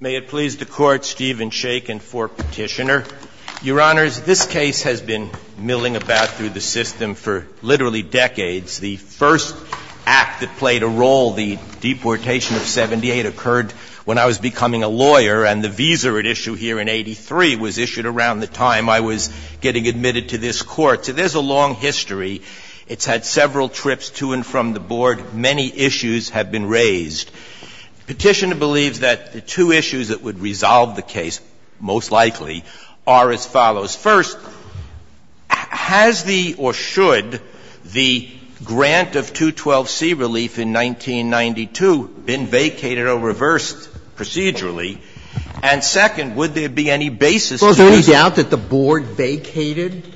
May it please the Court, Stephen Sheik and for Petitioner. Your Honors, this case has been milling about through the system for literally decades. The first act that played a role, the deportation of 78, occurred when I was becoming a lawyer, and the visa at issue here in 83 was issued around the time I was getting admitted to this Court. So there's a long history. It's had several trips to and from the Board. Many issues have been raised. Petitioner believes that the two issues that would resolve the case, most likely, are as follows. First, has the, or should the, grant of 212C relief in 1992 been vacated or reversed procedurally? And second, would there be any basis to this? Sotomayor Well, is there any doubt that the Board vacated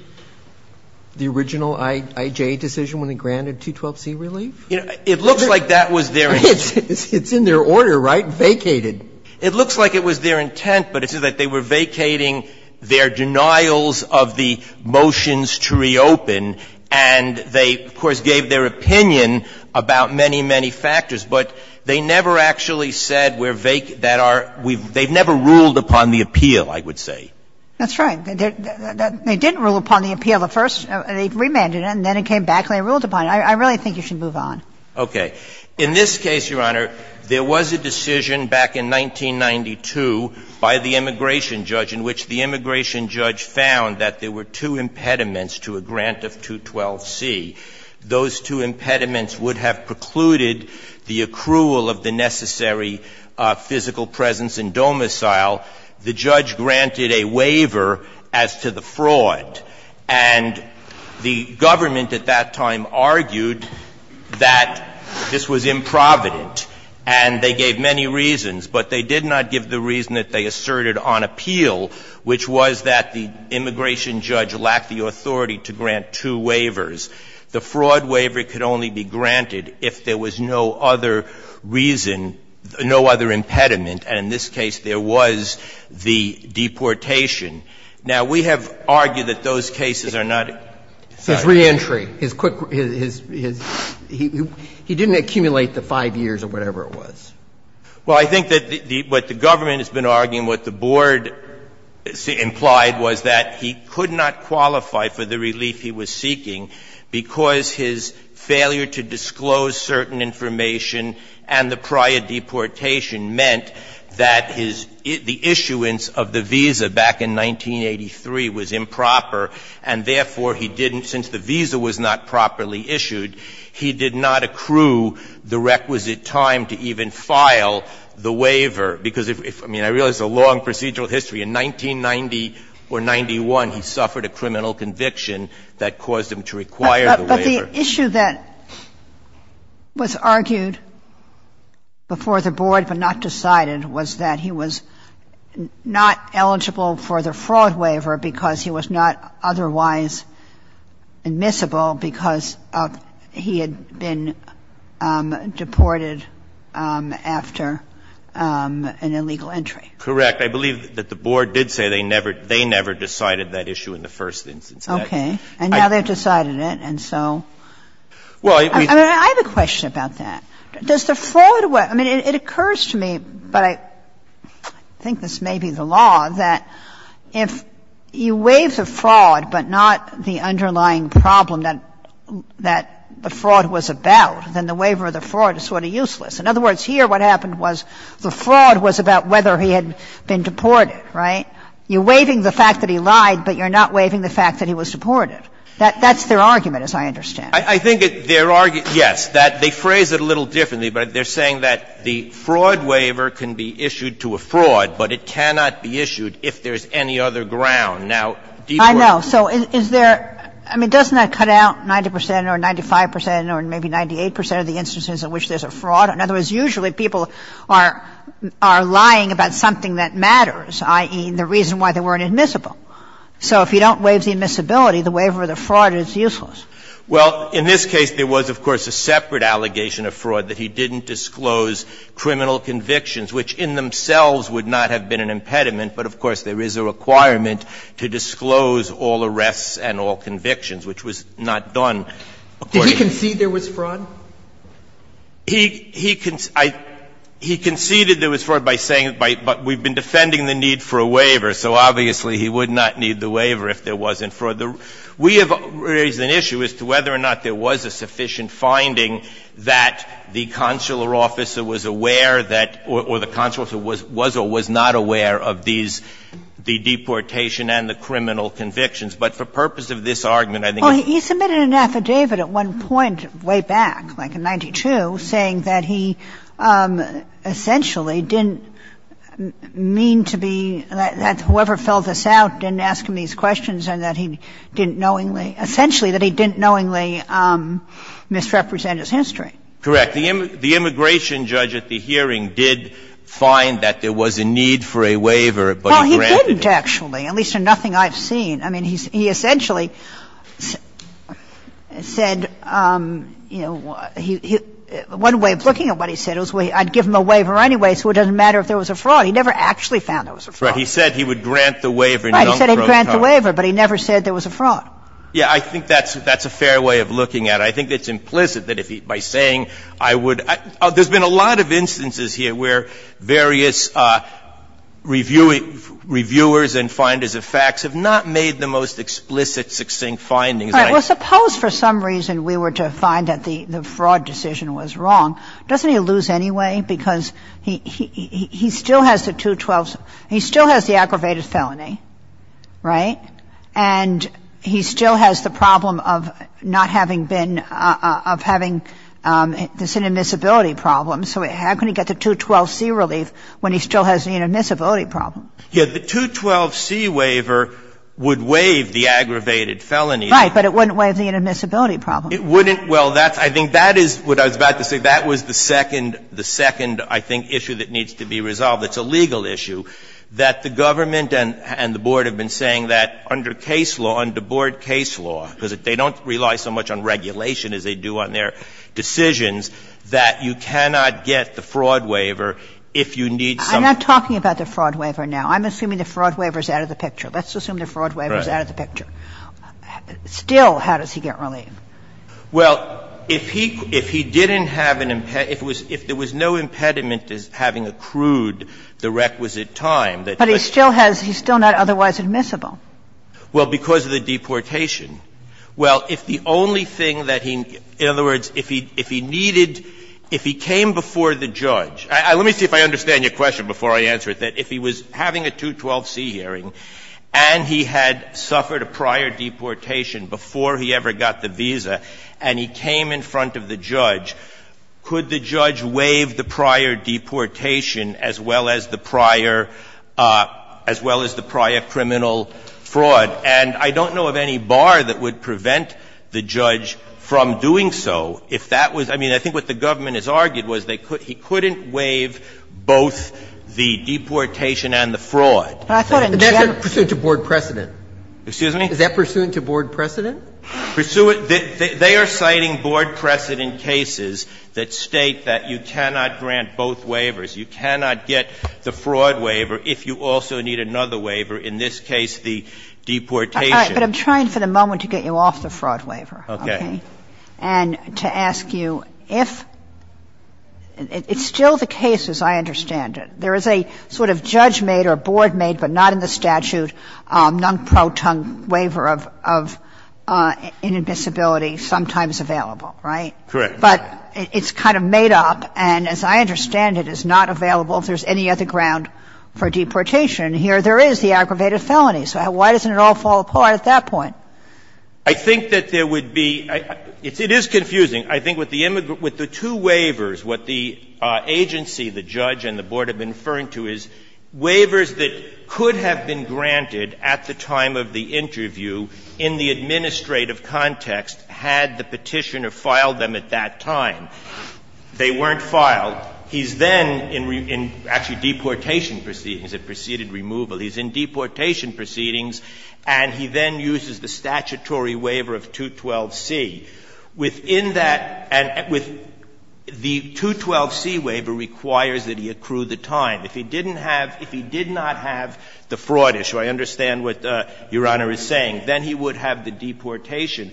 the original IJ decision when it granted 212C relief? Breyer It looks like that was their intent. Sotomayor It's in their order, right? Vacated. Breyer It looks like it was their intent, but it says that they were vacating their denials of the motions to reopen, and they, of course, gave their opinion about many, many factors. But they never actually said we're vacating that are we've they've never ruled upon the appeal, I would say. Kagan That's right. They didn't rule upon the appeal at first. They remanded it, and then it came back and they ruled upon it. I really think you should move on. Breyer Okay. In this case, Your Honor, there was a decision back in 1992 by the immigration judge in which the immigration judge found that there were two impediments to a grant of 212C. Those two impediments would have precluded the accrual of the necessary physical presence in domicile. The judge granted a waiver as to the fraud, and the government at that time argued that this was improvident, and they gave many reasons, but they did not give the reason that they asserted on appeal, which was that the immigration judge lacked the authority to grant two waivers. The fraud waiver could only be granted if there was no other reason, no other impediment, and in this case there was the deportation. Now, we have argued that those cases are not decided. Roberts So it's reentry. His quick, his, his, he didn't accumulate the 5 years or whatever it was. Breyer Well, I think that what the government has been arguing, what the board implied was that he could not qualify for the relief he was seeking because his failure to disclose certain information and the prior deportation meant that his, the issuance of the visa back in 1983 was improper, and therefore he didn't, since the visa was not properly issued, he did not accrue the requisite time to even file the waiver. Because if, I mean, I realize it's a long procedural history. In 1990 or 91, he suffered a criminal conviction that caused him to require the waiver. Kagan The issue that was argued before the board but not decided was that he was not eligible for the fraud waiver because he was not otherwise admissible because he had been deported after an illegal entry. Roberts Correct. I believe that the board did say they never, they never decided that issue in the first instance. Kagan Okay. And now they've decided it, and so. I mean, I have a question about that. Does the fraud, I mean, it occurs to me, but I think this may be the law, that if you waive the fraud but not the underlying problem that the fraud was about, then the waiver of the fraud is sort of useless. In other words, here what happened was the fraud was about whether he had been deported, right? You're waiving the fact that he lied, but you're not waiving the fact that he was deported. That's their argument, as I understand it. I think their argument, yes, that they phrase it a little differently, but they're saying that the fraud waiver can be issued to a fraud, but it cannot be issued if there's any other ground. Now, Deepwater. Kagan I know. So is there, I mean, doesn't that cut out 90 percent or 95 percent or maybe 98 percent of the instances in which there's a fraud? In other words, usually people are lying about something that matters, i.e., the reason why they weren't admissible. So if you don't waive the admissibility, the waiver of the fraud is useless. Well, in this case, there was, of course, a separate allegation of fraud that he didn't disclose criminal convictions, which in themselves would not have been an impediment, but, of course, there is a requirement to disclose all arrests and all convictions, which was not done. Did he concede there was fraud? He conceded there was fraud by saying, but we've been defending the need for a waiver. So obviously, he would not need the waiver if there wasn't fraud. We have raised an issue as to whether or not there was a sufficient finding that the consular officer was aware that or the consular officer was or was not aware of these, the deportation and the criminal convictions. But for purpose of this argument, I think it's not. Well, he submitted an affidavit at one point way back, like in 92, saying that he didn't knowingly, essentially that he didn't knowingly misrepresent his history. Correct. The immigration judge at the hearing did find that there was a need for a waiver, but he granted it. Well, he didn't, actually, at least in nothing I've seen. I mean, he essentially said, you know, one way of looking at what he said, I'd give him a waiver anyway, so it doesn't matter if there was a fraud. He never actually found there was a fraud. He said he would grant the waiver. Right, he said he'd grant the waiver, but he never said there was a fraud. Yeah, I think that's a fair way of looking at it. I think it's implicit that if he, by saying I would, there's been a lot of instances here where various reviewers and finders of facts have not made the most explicit, succinct findings. All right. Well, suppose for some reason we were to find that the fraud decision was wrong. Doesn't he lose anyway? Because he still has the 212C. He still has the aggravated felony, right? And he still has the problem of not having been, of having this inadmissibility problem. So how can he get the 212C relief when he still has the inadmissibility problem? Yeah, the 212C waiver would waive the aggravated felony. Right, but it wouldn't waive the inadmissibility problem. It wouldn't. Well, that's, I think that is what I was about to say. That was the second, the second, I think, issue that needs to be resolved. It's a legal issue, that the government and the Board have been saying that under case law, under Board case law, because they don't rely so much on regulation as they do on their decisions, that you cannot get the fraud waiver if you need some. I'm not talking about the fraud waiver now. I'm assuming the fraud waiver is out of the picture. Let's assume the fraud waiver is out of the picture. Still, how does he get relief? Well, if he didn't have an impediment, if there was no impediment to having accrued the requisite time, that does not mean that he can't get relief. But he still has, he's still not otherwise admissible. Well, because of the deportation. Well, if the only thing that he, in other words, if he needed, if he came before the judge, let me see if I understand your question before I answer it, that if he was having a 212C hearing and he had suffered a prior deportation before he ever got the visa and he came in front of the judge, could the judge waive the prior deportation as well as the prior, as well as the prior criminal fraud? And I don't know of any bar that would prevent the judge from doing so. If that was, I mean, I think what the government has argued was they could, he couldn't waive both the deportation and the fraud. But I thought in general that's a pursuant to board precedent. Excuse me? Is that pursuant to board precedent? Pursuant, they are citing board precedent cases that state that you cannot grant both waivers. You cannot get the fraud waiver if you also need another waiver, in this case the deportation. All right. But I'm trying for the moment to get you off the fraud waiver. Okay. And to ask you if, it's still the case, as I understand it, there is a sort of judge made or board made, but not in the statute, non-pro-tongue waiver of inadmissibility sometimes available, right? Correct. But it's kind of made up, and as I understand it, it's not available if there's any other ground for deportation. Here there is the aggravated felony, so why doesn't it all fall apart at that point? I think that there would be – it is confusing. I think with the two waivers, what the agency, the judge and the board have been referring to is waivers that could have been granted at the time of the interview in the administrative context had the Petitioner filed them at that time. They weren't filed. He's then in actually deportation proceedings, in preceded removal. He's in deportation proceedings, and he then uses the statutory waiver of 212c. Within that, and with the 212c waiver requires that he accrue the time. If he didn't have – if he did not have the fraud issue, I understand what Your Honor is saying, then he would have the deportation.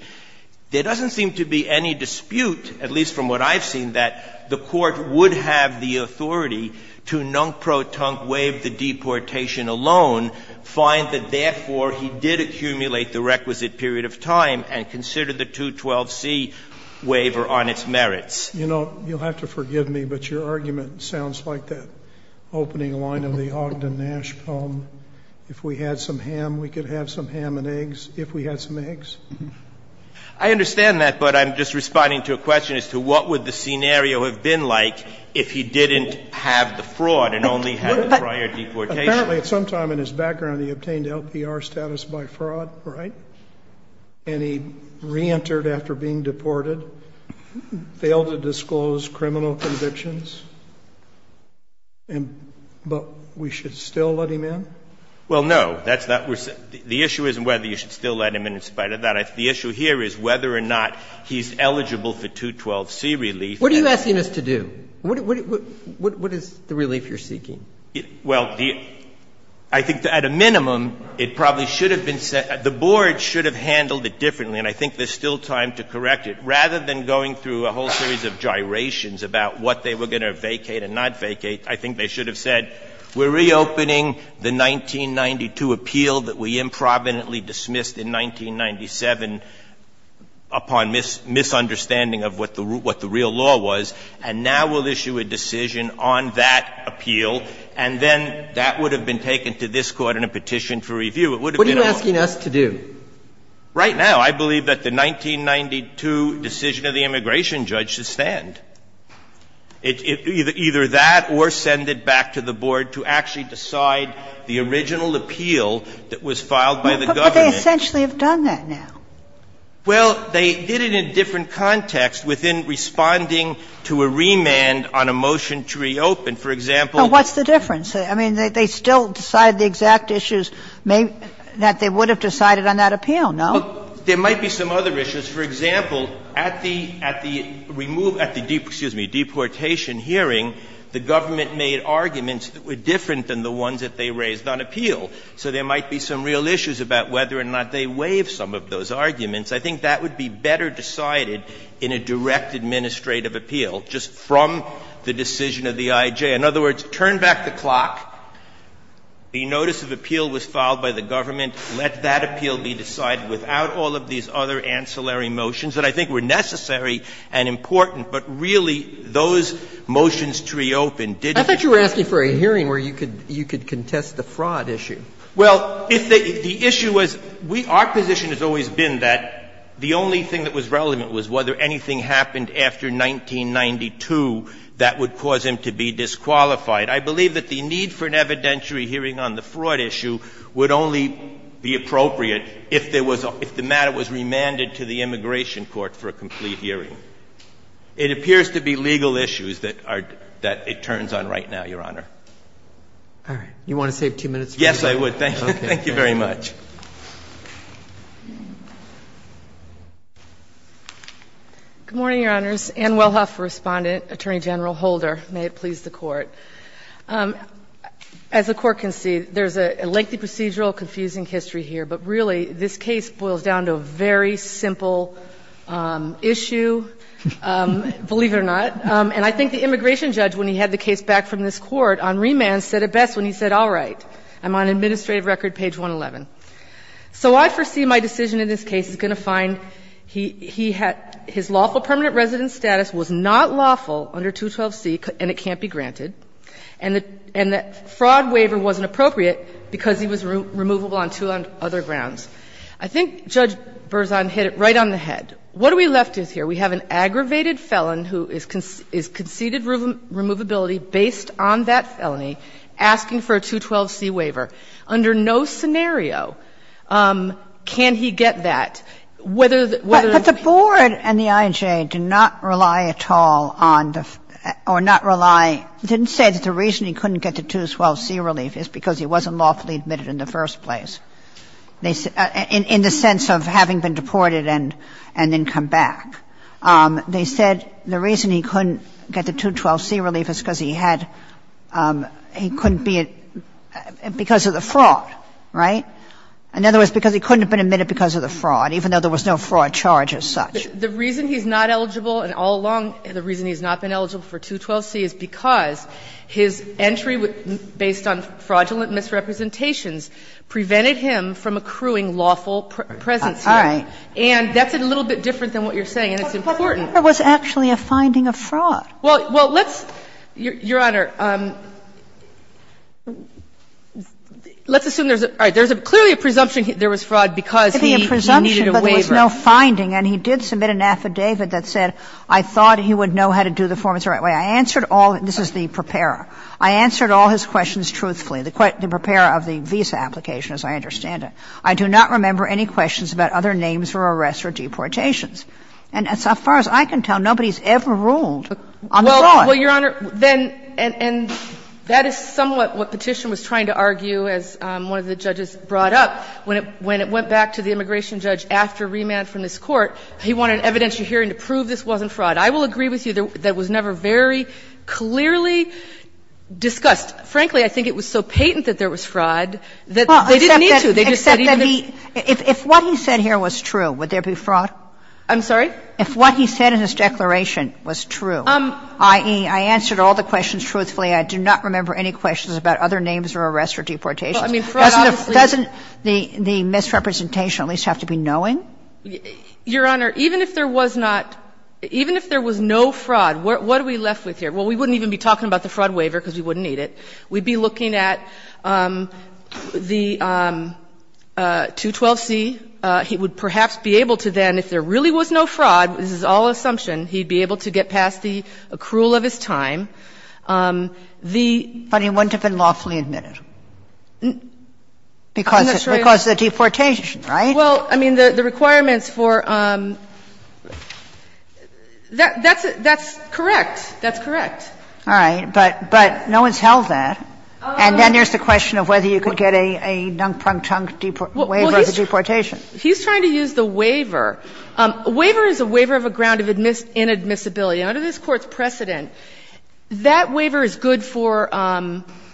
There doesn't seem to be any dispute, at least from what I've seen, that the Court would have the authority to non-protonque waive the deportation alone, find that therefore he did accumulate the requisite period of time, and consider the 212c waiver on its merits. You know, you'll have to forgive me, but your argument sounds like the opening line of the Ogden Nash poem. If we had some ham, we could have some ham and eggs, if we had some eggs. I understand that, but I'm just responding to a question as to what would the scenario have been like if he didn't have the fraud and only had the prior deportation. Apparently, at some time in his background, he obtained LPR status by fraud, right? And he reentered after being deported, failed to disclose criminal convictions. But we should still let him in? Well, no, that's not what we're – the issue isn't whether you should still let him in in spite of that. The issue here is whether or not he's eligible for 212c relief. What are you asking us to do? What is the relief you're seeking? Well, I think at a minimum, it probably should have been set – the board should have handled it differently, and I think there's still time to correct it. Rather than going through a whole series of gyrations about what they were going to vacate and not vacate, I think they should have said, we're reopening the 1992 appeal that we improvidently dismissed in 1997 upon misunderstanding of what the real law was, and now we'll issue a decision on that appeal, and then that would have been taken to this Court in a petition for review. It would have been a lawful decision. What are you asking us to do? Right now, I believe that the 1992 decision of the immigration judge to stand. Either that or send it back to the board to actually decide the original appeal that was filed by the government. But they essentially have done that now. Well, they did it in a different context within responding to a remand on a motion to reopen. For example – But what's the difference? I mean, they still decide the exact issues that they would have decided on that appeal, no? There might be some other issues. For example, at the – at the removal – at the, excuse me, deportation hearing, the government made arguments that were different than the ones that they raised on appeal. So there might be some real issues about whether or not they waive some of those arguments. I think that would be better decided in a direct administrative appeal, just from the decision of the IJ. In other words, turn back the clock, the notice of appeal was filed by the government, let that appeal be decided without all of these other ancillary motions that I think were necessary and important. But really, those motions to reopen didn't – I thought you were asking for a hearing where you could – you could contest the fraud issue. Well, if the issue was – we – our position has always been that the only thing that was relevant was whether anything happened after 1992 that would cause him to be disqualified. I believe that the need for an evidentiary hearing on the fraud issue would only be appropriate if there was – if the matter was remanded to the immigration court for a complete hearing. It appears to be legal issues that are – that it turns on right now, Your Honor. All right. You want to save two minutes for your question? Yes, I would. Thank you. Thank you very much. Good morning, Your Honors. Ann Wellhoff, Respondent, Attorney General Holder. May it please the Court. As the Court can see, there's a lengthy procedural, confusing history here. But really, this case boils down to a very simple issue, believe it or not. And I think the immigration judge, when he had the case back from this Court on remand, said it best when he said, all right, I'm on administrative record, page 111. So I foresee my decision in this case is going to find he had – his lawful permanent resident status was not lawful under 212C, and it can't be granted, and the fraud waiver wasn't appropriate because he was removable on two other grounds. I think Judge Berzon hit it right on the head. What are we left with here? We have an aggravated felon who is conceded removability based on that felony, asking for a 212C waiver. Under no scenario can he get that, whether the – whether he can get that. But the board and the IJA did not rely at all on the – or not rely – didn't say that the reason he couldn't get the 212C relief is because he wasn't lawfully admitted in the first place, in the sense of having been deported and then come back. They said the reason he couldn't get the 212C relief is because he had – he couldn't be – because of the fraud, right? In other words, because he couldn't have been admitted because of the fraud, even though there was no fraud charge as such. The reason he's not eligible and all along the reason he's not been eligible for 212C is because his entry, based on fraudulent misrepresentations, prevented him from accruing lawful presence here. All right. And that's a little bit different than what you're saying. And it's important. But there was actually a finding of fraud. Well, let's – Your Honor, let's assume there's a – all right. There's a – clearly a presumption there was fraud because he needed a waiver. It could be a presumption, but there was no finding, and he did submit an affidavit that said, I thought he would know how to do the forms the right way. I answered all – this is the preparer. I answered all his questions truthfully, the preparer of the visa application, as I understand it. I do not remember any questions about other names or arrests or deportations. And as far as I can tell, nobody's ever ruled on fraud. Well, Your Honor, then – and that is somewhat what Petition was trying to argue as one of the judges brought up when it went back to the immigration judge after remand from this Court. He wanted an evidentiary hearing to prove this wasn't fraud. I will agree with you that was never very clearly discussed. Frankly, I think it was so patent that there was fraud that they didn't need to. They just said he didn't need to. Except that he – if what he said here was true, would there be fraud? I'm sorry? If what he said in his declaration was true, i.e., I answered all the questions truthfully, I do not remember any questions about other names or arrests or deportations. Doesn't the misrepresentation at least have to be knowing? Your Honor, even if there was not – even if there was no fraud, what are we left with here? Well, we wouldn't even be talking about the fraud waiver because we wouldn't need it. We'd be looking at the 212C. And he would perhaps be able to then, if there really was no fraud, this is all assumption, he'd be able to get past the accrual of his time. The – But he wouldn't have been lawfully admitted because of the deportation, right? Well, I mean, the requirements for – that's correct. That's correct. All right. But no one's held that. And then there's the question of whether you could get a nunk-prunk-chunk waiver of the deportation. He's trying to use the waiver. A waiver is a waiver of a ground of inadmissibility. And under this Court's precedent, that waiver is good for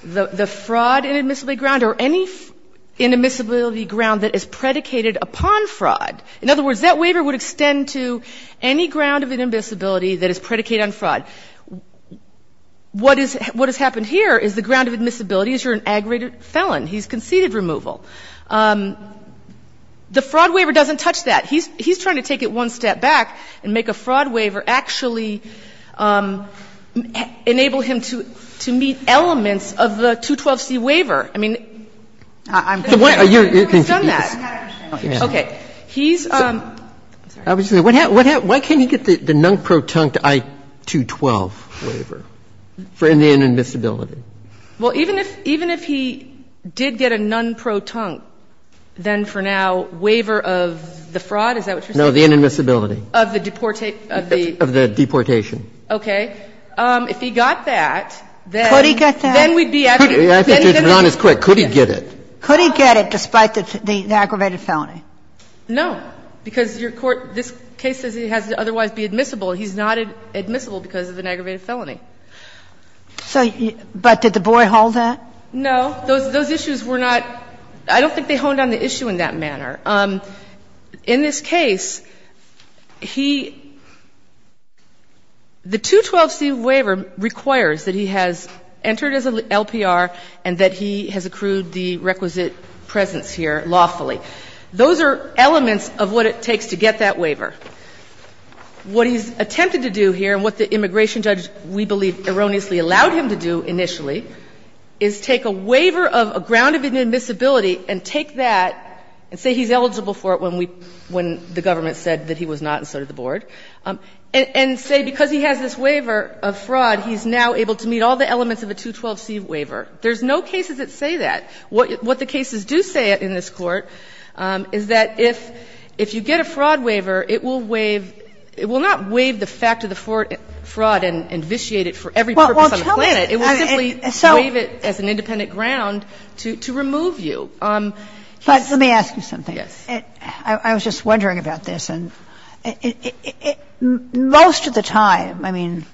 the fraud inadmissibility ground or any inadmissibility ground that is predicated upon fraud. In other words, that waiver would extend to any ground of inadmissibility that is predicated on fraud. What is – what has happened here is the ground of admissibility is you're an aggravated felon. He's conceded removal. The fraud waiver doesn't touch that. He's trying to take it one step back and make a fraud waiver actually enable him to meet elements of the 212c waiver. I mean, he's done that. Okay. He's – I was just going to say, what happened – why can't he get the nunk-prunk-chunk I-212 waiver for inadmissibility? Well, even if – even if he did get a nunk-prunk-chunk, then for now, waiver of the fraud, is that what you're saying? No, the inadmissibility. Of the deportation. Of the deportation. Okay. If he got that, then we'd be at the end of the case. Could he get that? I think you're not as quick. Could he get it? Could he get it despite the aggravated felony? No, because your Court – this case says he has to otherwise be admissible. He's not admissible because of an aggravated felony. So – but did the boy hold that? No. Those issues were not – I don't think they honed on the issue in that manner. In this case, he – the 212c waiver requires that he has entered as an LPR and that he has accrued the requisite presence here lawfully. What he's attempted to do here, and what the immigration judge, we believe, erroneously allowed him to do initially, is take a waiver of a ground of inadmissibility and take that and say he's eligible for it when we – when the government said that he was not and so did the Board, and say because he has this waiver of fraud, he's now able to meet all the elements of a 212c waiver. There's no cases that say that. What the cases do say in this Court is that if you get a fraud waiver, it will waive – it will not waive the fact of the fraud and vitiate it for every purpose on the planet. It will simply waive it as an independent ground to remove you. But let me ask you something. Yes. I was just wondering about this. Most of the time, I mean,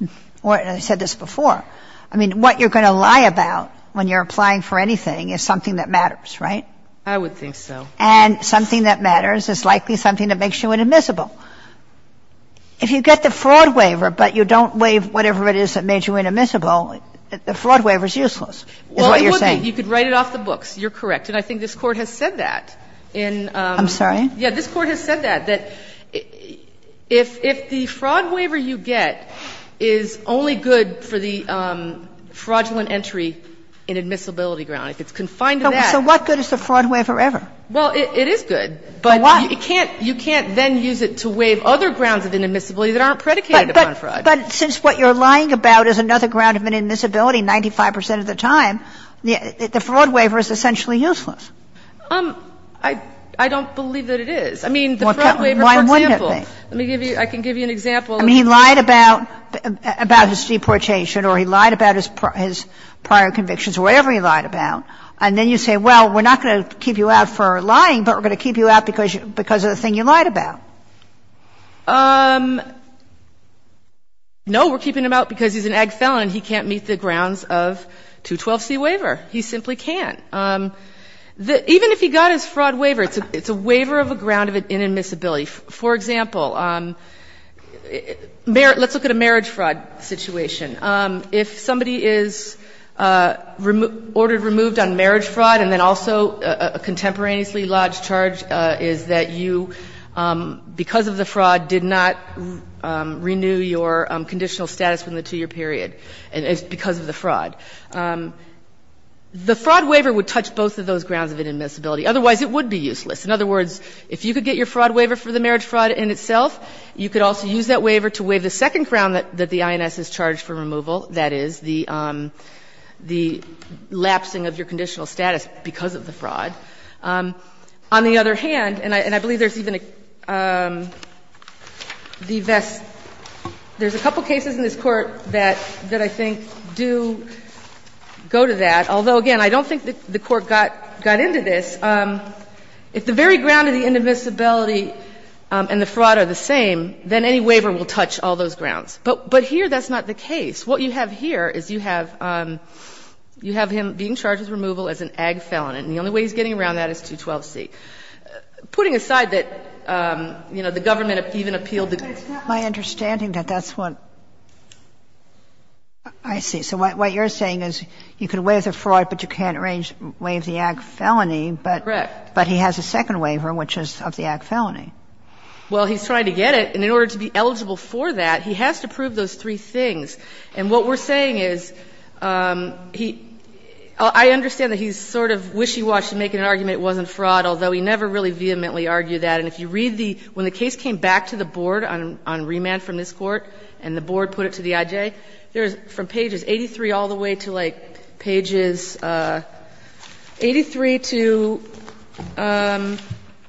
I said this before, I mean, what you're going to lie about when you're applying for anything is something that matters, right? I would think so. And something that matters is likely something that makes you inadmissible. If you get the fraud waiver, but you don't waive whatever it is that made you inadmissible, the fraud waiver is useless, is what you're saying. Well, it would be. You could write it off the books. You're correct. And I think this Court has said that in the – I'm sorry? Yeah. This Court has said that, that if the fraud waiver you get is only good for the fraudulent entry inadmissibility ground, if it's confined to that – So what good is the fraud waiver ever? Well, it is good. But you can't then use it to waive other grounds of inadmissibility that aren't predicated upon fraud. But since what you're lying about is another ground of inadmissibility 95 percent of the time, the fraud waiver is essentially useless. I don't believe that it is. I mean, the fraud waiver, for example – Why wouldn't it be? Let me give you – I can give you an example of – I mean, he lied about his deportation or he lied about his prior convictions or whatever he lied about. And then you say, well, we're not going to keep you out for lying, but we're going to keep you out because of the thing you lied about. No, we're keeping him out because he's an ag felon and he can't meet the grounds of 212c waiver. He simply can't. Even if he got his fraud waiver, it's a waiver of a ground of inadmissibility. For example, let's look at a marriage fraud situation. If somebody is ordered removed on marriage fraud and then also a contemporaneously lodged charge is that you, because of the fraud, did not renew your conditional status within the 2-year period because of the fraud, the fraud waiver would touch both of those grounds of inadmissibility. Otherwise, it would be useless. In other words, if you could get your fraud waiver for the marriage fraud in itself, you could also use that waiver to waive the second ground that the INS is charged for removal, that is, the lapsing of your conditional status because of the fraud. On the other hand, and I believe there's even a – the VEST – there's a couple cases in this Court that I think do go to that, although, again, I don't think the Court got into this. If the very ground of the inadmissibility and the fraud are the same, then any waiver will touch all those grounds. But here, that's not the case. What you have here is you have him being charged with removal as an ag felon, and the only way he's getting around that is 212c. Putting aside that, you know, the government even appealed the case. Kagan. Kagan. It's not my understanding that that's what – I see. So what you're saying is you can waive the fraud, but you can't waive the ag felony, but he has a second waiver, which is of the ag felony. Well, he's trying to get it, and in order to be eligible for that, he has to prove those three things. And what we're saying is he – I understand that he's sort of wishy-washy making an argument it wasn't fraud, although he never really vehemently argued that, and if you read the – when the case came back to the Board on remand from this Court and the Board put it to the IJ, there's from pages 83 all the way to, like, pages 83 to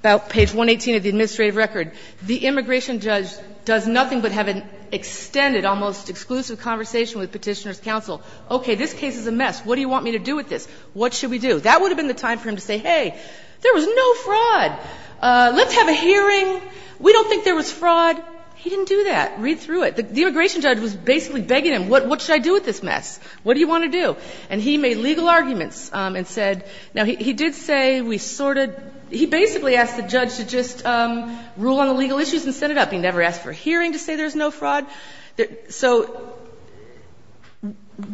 about page 118 of the administrative record, the immigration judge does nothing but have an extended, almost exclusive conversation with Petitioner's counsel, okay, this case is a mess, what do you want me to do with this, what should we do? That would have been the time for him to say, hey, there was no fraud, let's have a hearing, we don't think there was fraud. He didn't do that. Read through it. The immigration judge was basically begging him, what should I do with this mess? What do you want to do? And he made legal arguments and said – now, he did say we sorted – he basically asked the judge to just rule on the legal issues and set it up. He never asked for a hearing to say there's no fraud. So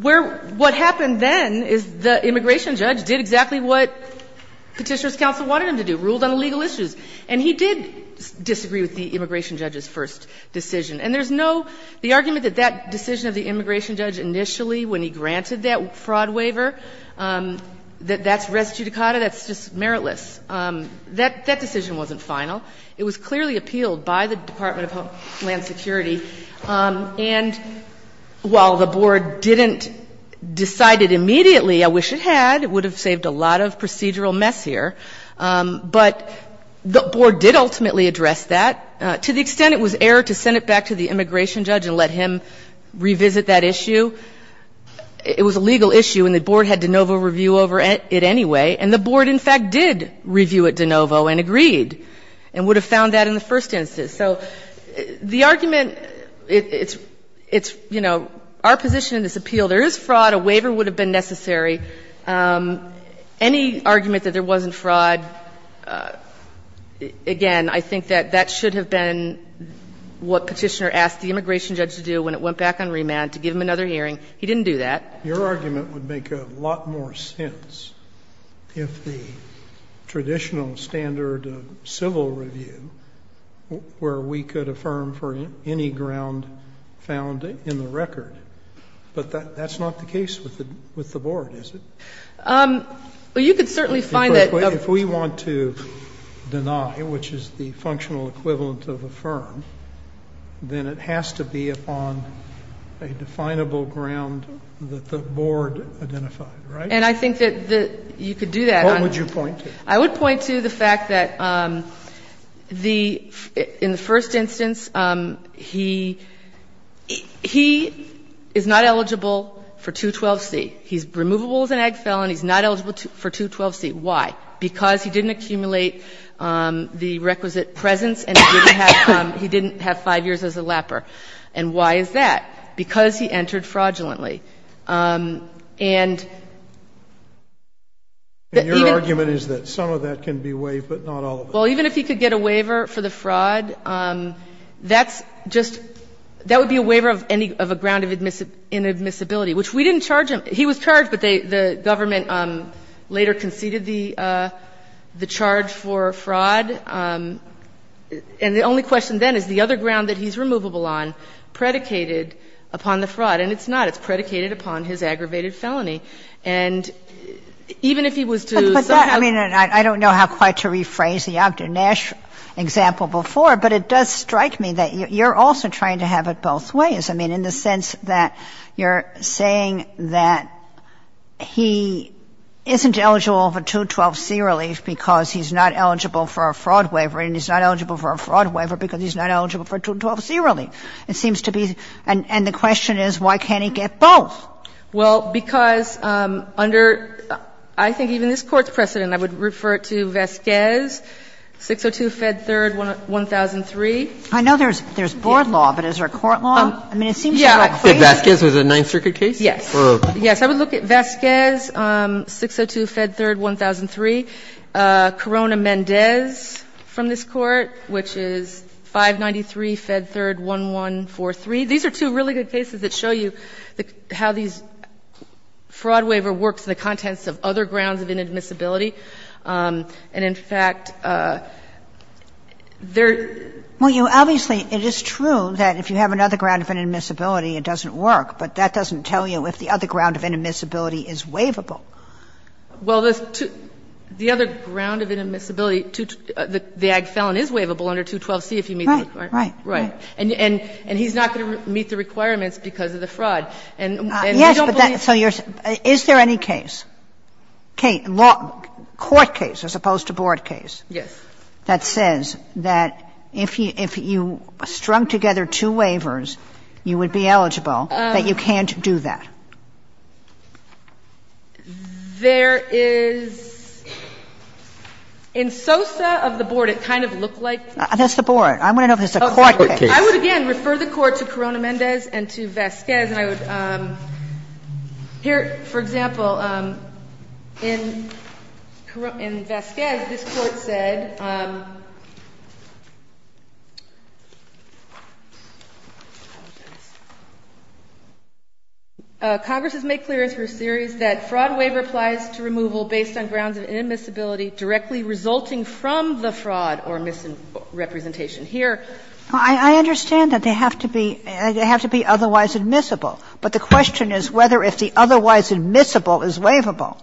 where – what happened then is the immigration judge did exactly what Petitioner's counsel wanted him to do, ruled on the legal issues. And he did disagree with the immigration judge's first decision. And there's no – the argument that that decision of the immigration judge initially when he granted that fraud waiver, that that's res judicata, that's just meritless. That decision wasn't final. It was clearly appealed by the Department of Homeland Security. And while the Board didn't decide it immediately, I wish it had. It would have saved a lot of procedural mess here. But the Board did ultimately address that. To the extent it was error to send it back to the immigration judge and let him revisit that issue, it was a legal issue, and the Board had de novo review over it anyway. And the Board, in fact, did review it de novo and agreed and would have found that in the first instance. So the argument – it's – it's, you know, our position in this appeal, there is fraud, a waiver would have been necessary. Any argument that there wasn't fraud, again, I think that that should have been what Petitioner asked the immigration judge to do when it went back on remand to get him another hearing. He didn't do that. Your argument would make a lot more sense if the traditional standard of civil review where we could affirm for any ground found in the record. But that's not the case with the – with the Board, is it? Well, you could certainly find that other – If we want to deny, which is the functional equivalent of affirm, then it has to be on a definable ground that the Board identified, right? And I think that the – you could do that. What would you point to? I would point to the fact that the – in the first instance, he – he is not eligible for 212C. He's removable as an ag felon. He's not eligible for 212C. Why? Because he didn't accumulate the requisite presence and he didn't have – he didn't have five years as a lapper. And why is that? Because he entered fraudulently. And even – And your argument is that some of that can be waived, but not all of it. Well, even if he could get a waiver for the fraud, that's just – that would be a waiver of any – of a ground of inadmissibility, which we didn't charge him. He was charged, but they – the government later conceded the charge for fraud. And the only question then is the other ground that he's removable on predicated upon the fraud. And it's not. It's predicated upon his aggravated felony. And even if he was to somehow – But that – I mean, and I don't know how quite to rephrase the Dr. Nash example before, but it does strike me that you're also trying to have it both ways, I mean, in the sense that you're saying that he isn't eligible for 212C relief because he's not eligible for a fraud waiver, and he's not eligible for a fraud waiver because he's not eligible for 212C relief. It seems to be – and the question is, why can't he get both? Well, because under – I think even this Court's precedent, I would refer it to Vasquez, 602 Fed 3rd, 1003. I know there's – there's board law, but is there a court law? I mean, it seems to me like crazy. Did Vasquez have a Ninth Circuit case? Yes. Yes. I would look at Vasquez, 602 Fed 3rd, 1003, Corona-Mendez. And the other case from this Court, which is 593 Fed 3rd, 1143. These are two really good cases that show you how these – fraud waiver works in the contents of other grounds of inadmissibility. And in fact, there – Well, you – obviously, it is true that if you have another ground of inadmissibility, it doesn't work. But that doesn't tell you if the other ground of inadmissibility is waivable. Well, the other ground of inadmissibility, the ag felon is waivable under 212C if you meet the requirements. Right, right, right. And he's not going to meet the requirements because of the fraud. And we don't believe – Yes, but that – so you're – is there any case, court case as opposed to board case that says that if you strung together two waivers, you would be eligible, that you can't do that? There is – in Sosa of the board, it kind of looked like that. That's the board. I want to know if it's a court case. I would, again, refer the Court to Corona-Mendez and to Vasquez. And I would – here, for example, in Vasquez, this Court said, Congress has made clear in its first series that fraud waiver applies to removal based on grounds of inadmissibility directly resulting from the fraud or misrepresentation. Here, I understand that they have to be – they have to be otherwise admissible. But the question is whether if the otherwise admissible is waivable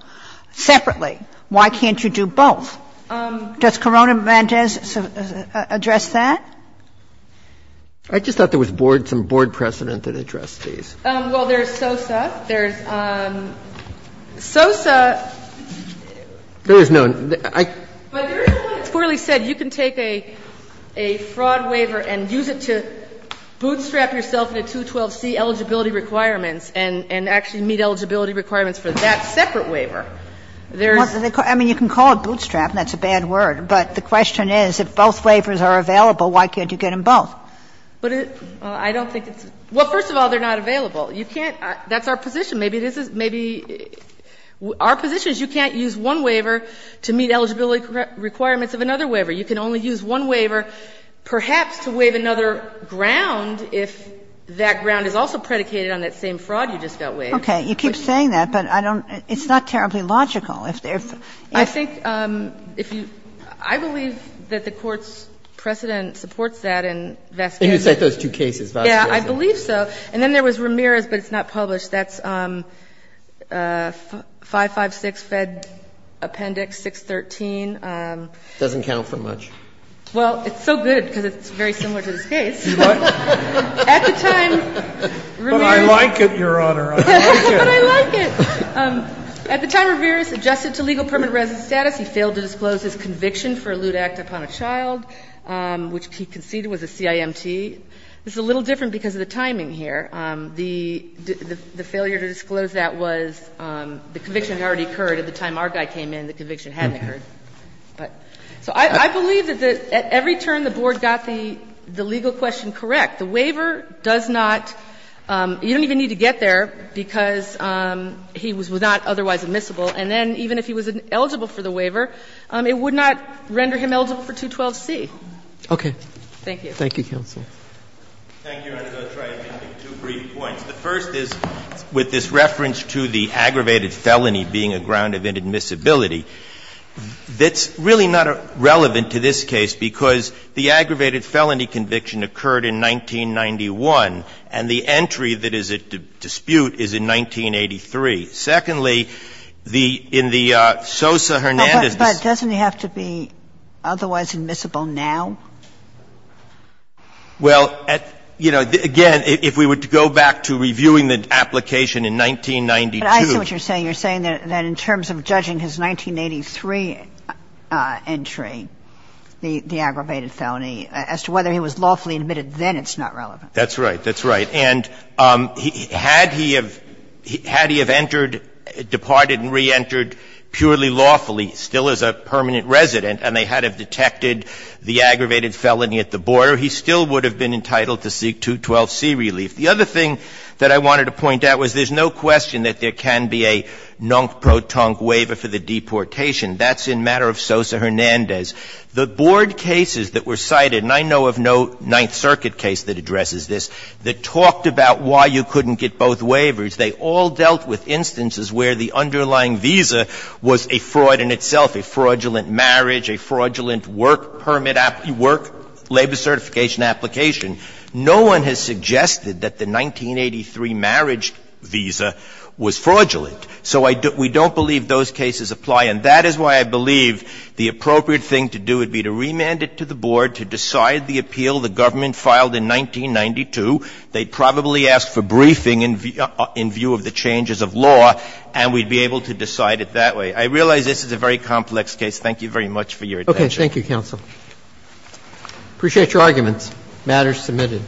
separately, why can't you do both? Does Corona-Mendez address that? I just thought there was board – some board precedent that addressed these. Well, there's Sosa. There's Sosa. There is no – I – But there is one that's poorly said. You can take a fraud waiver and use it to bootstrap yourself in a 212C eligibility requirements and actually meet eligibility requirements for that separate waiver. There's – I mean, you can call it bootstrap, and that's a bad word. But the question is, if both waivers are available, why can't you get them both? But I don't think it's – well, first of all, they're not available. You can't – that's our position. Maybe this is – maybe our position is you can't use one waiver to meet eligibility requirements of another waiver. You can only use one waiver perhaps to waive another ground if that ground is also predicated on that same fraud you just got waived. Okay. You keep saying that, but I don't – it's not terribly logical. If there's – I think if you – I believe that the Court's precedent supports that in Vasquez. You can cite those two cases, Vasquez. Yeah, I believe so. And then there was Ramirez, but it's not published. That's 556 Fed Appendix 613. It doesn't count for much. Well, it's so good because it's very similar to this case. What? At the time, Ramirez – But I like it, Your Honor. I like it. But I like it. At the time Ramirez adjusted to legal permanent residence status, he failed to disclose his conviction for a lewd act upon a child, which he conceded was a CIMT. It's a little different because of the timing here. The failure to disclose that was the conviction had already occurred at the time our guy came in, the conviction hadn't occurred. So I believe that at every turn the Board got the legal question correct. The waiver does not – you don't even need to get there because he was not otherwise admissible, and then even if he was eligible for the waiver, it would not render him eligible for 212C. Okay. Thank you. Thank you, counsel. Thank you, Your Honor. I'm going to try and make two brief points. The first is with this reference to the aggravated felony being a ground of inadmissibility. That's really not relevant to this case because the aggravated felony conviction occurred in 1991, and the entry that is at dispute is in 1983. Secondly, the – in the Sosa-Hernandez – But doesn't it have to be otherwise admissible now? Well, at – you know, again, if we were to go back to reviewing the application in 1992 – But I see what you're saying. You're saying that in terms of judging his 1983 entry, the aggravated felony, as to whether he was lawfully admitted then, it's not relevant. That's right. That's right. And had he have – had he have entered – departed and reentered purely lawfully, still as a permanent resident, and they had have detected the aggravated felony at the border, he still would have been entitled to seek 212C relief. The other thing that I wanted to point out was there's no question that there can be a non-protonc waiver for the deportation. That's in matter of Sosa-Hernandez. The board cases that were cited – and I know of no Ninth Circuit case that addresses this – that talked about why you couldn't get both waivers, they all dealt with itself, a fraudulent marriage, a fraudulent work permit – work labor certification application. No one has suggested that the 1983 marriage visa was fraudulent. So I – we don't believe those cases apply, and that is why I believe the appropriate thing to do would be to remand it to the board to decide the appeal the government filed in 1992. They'd probably ask for briefing in view of the changes of law, and we'd be able to decide it that way. I realize this is a very complex case. Thank you very much for your attention. Roberts. Thank you, counsel. Appreciate your arguments. The matter is submitted.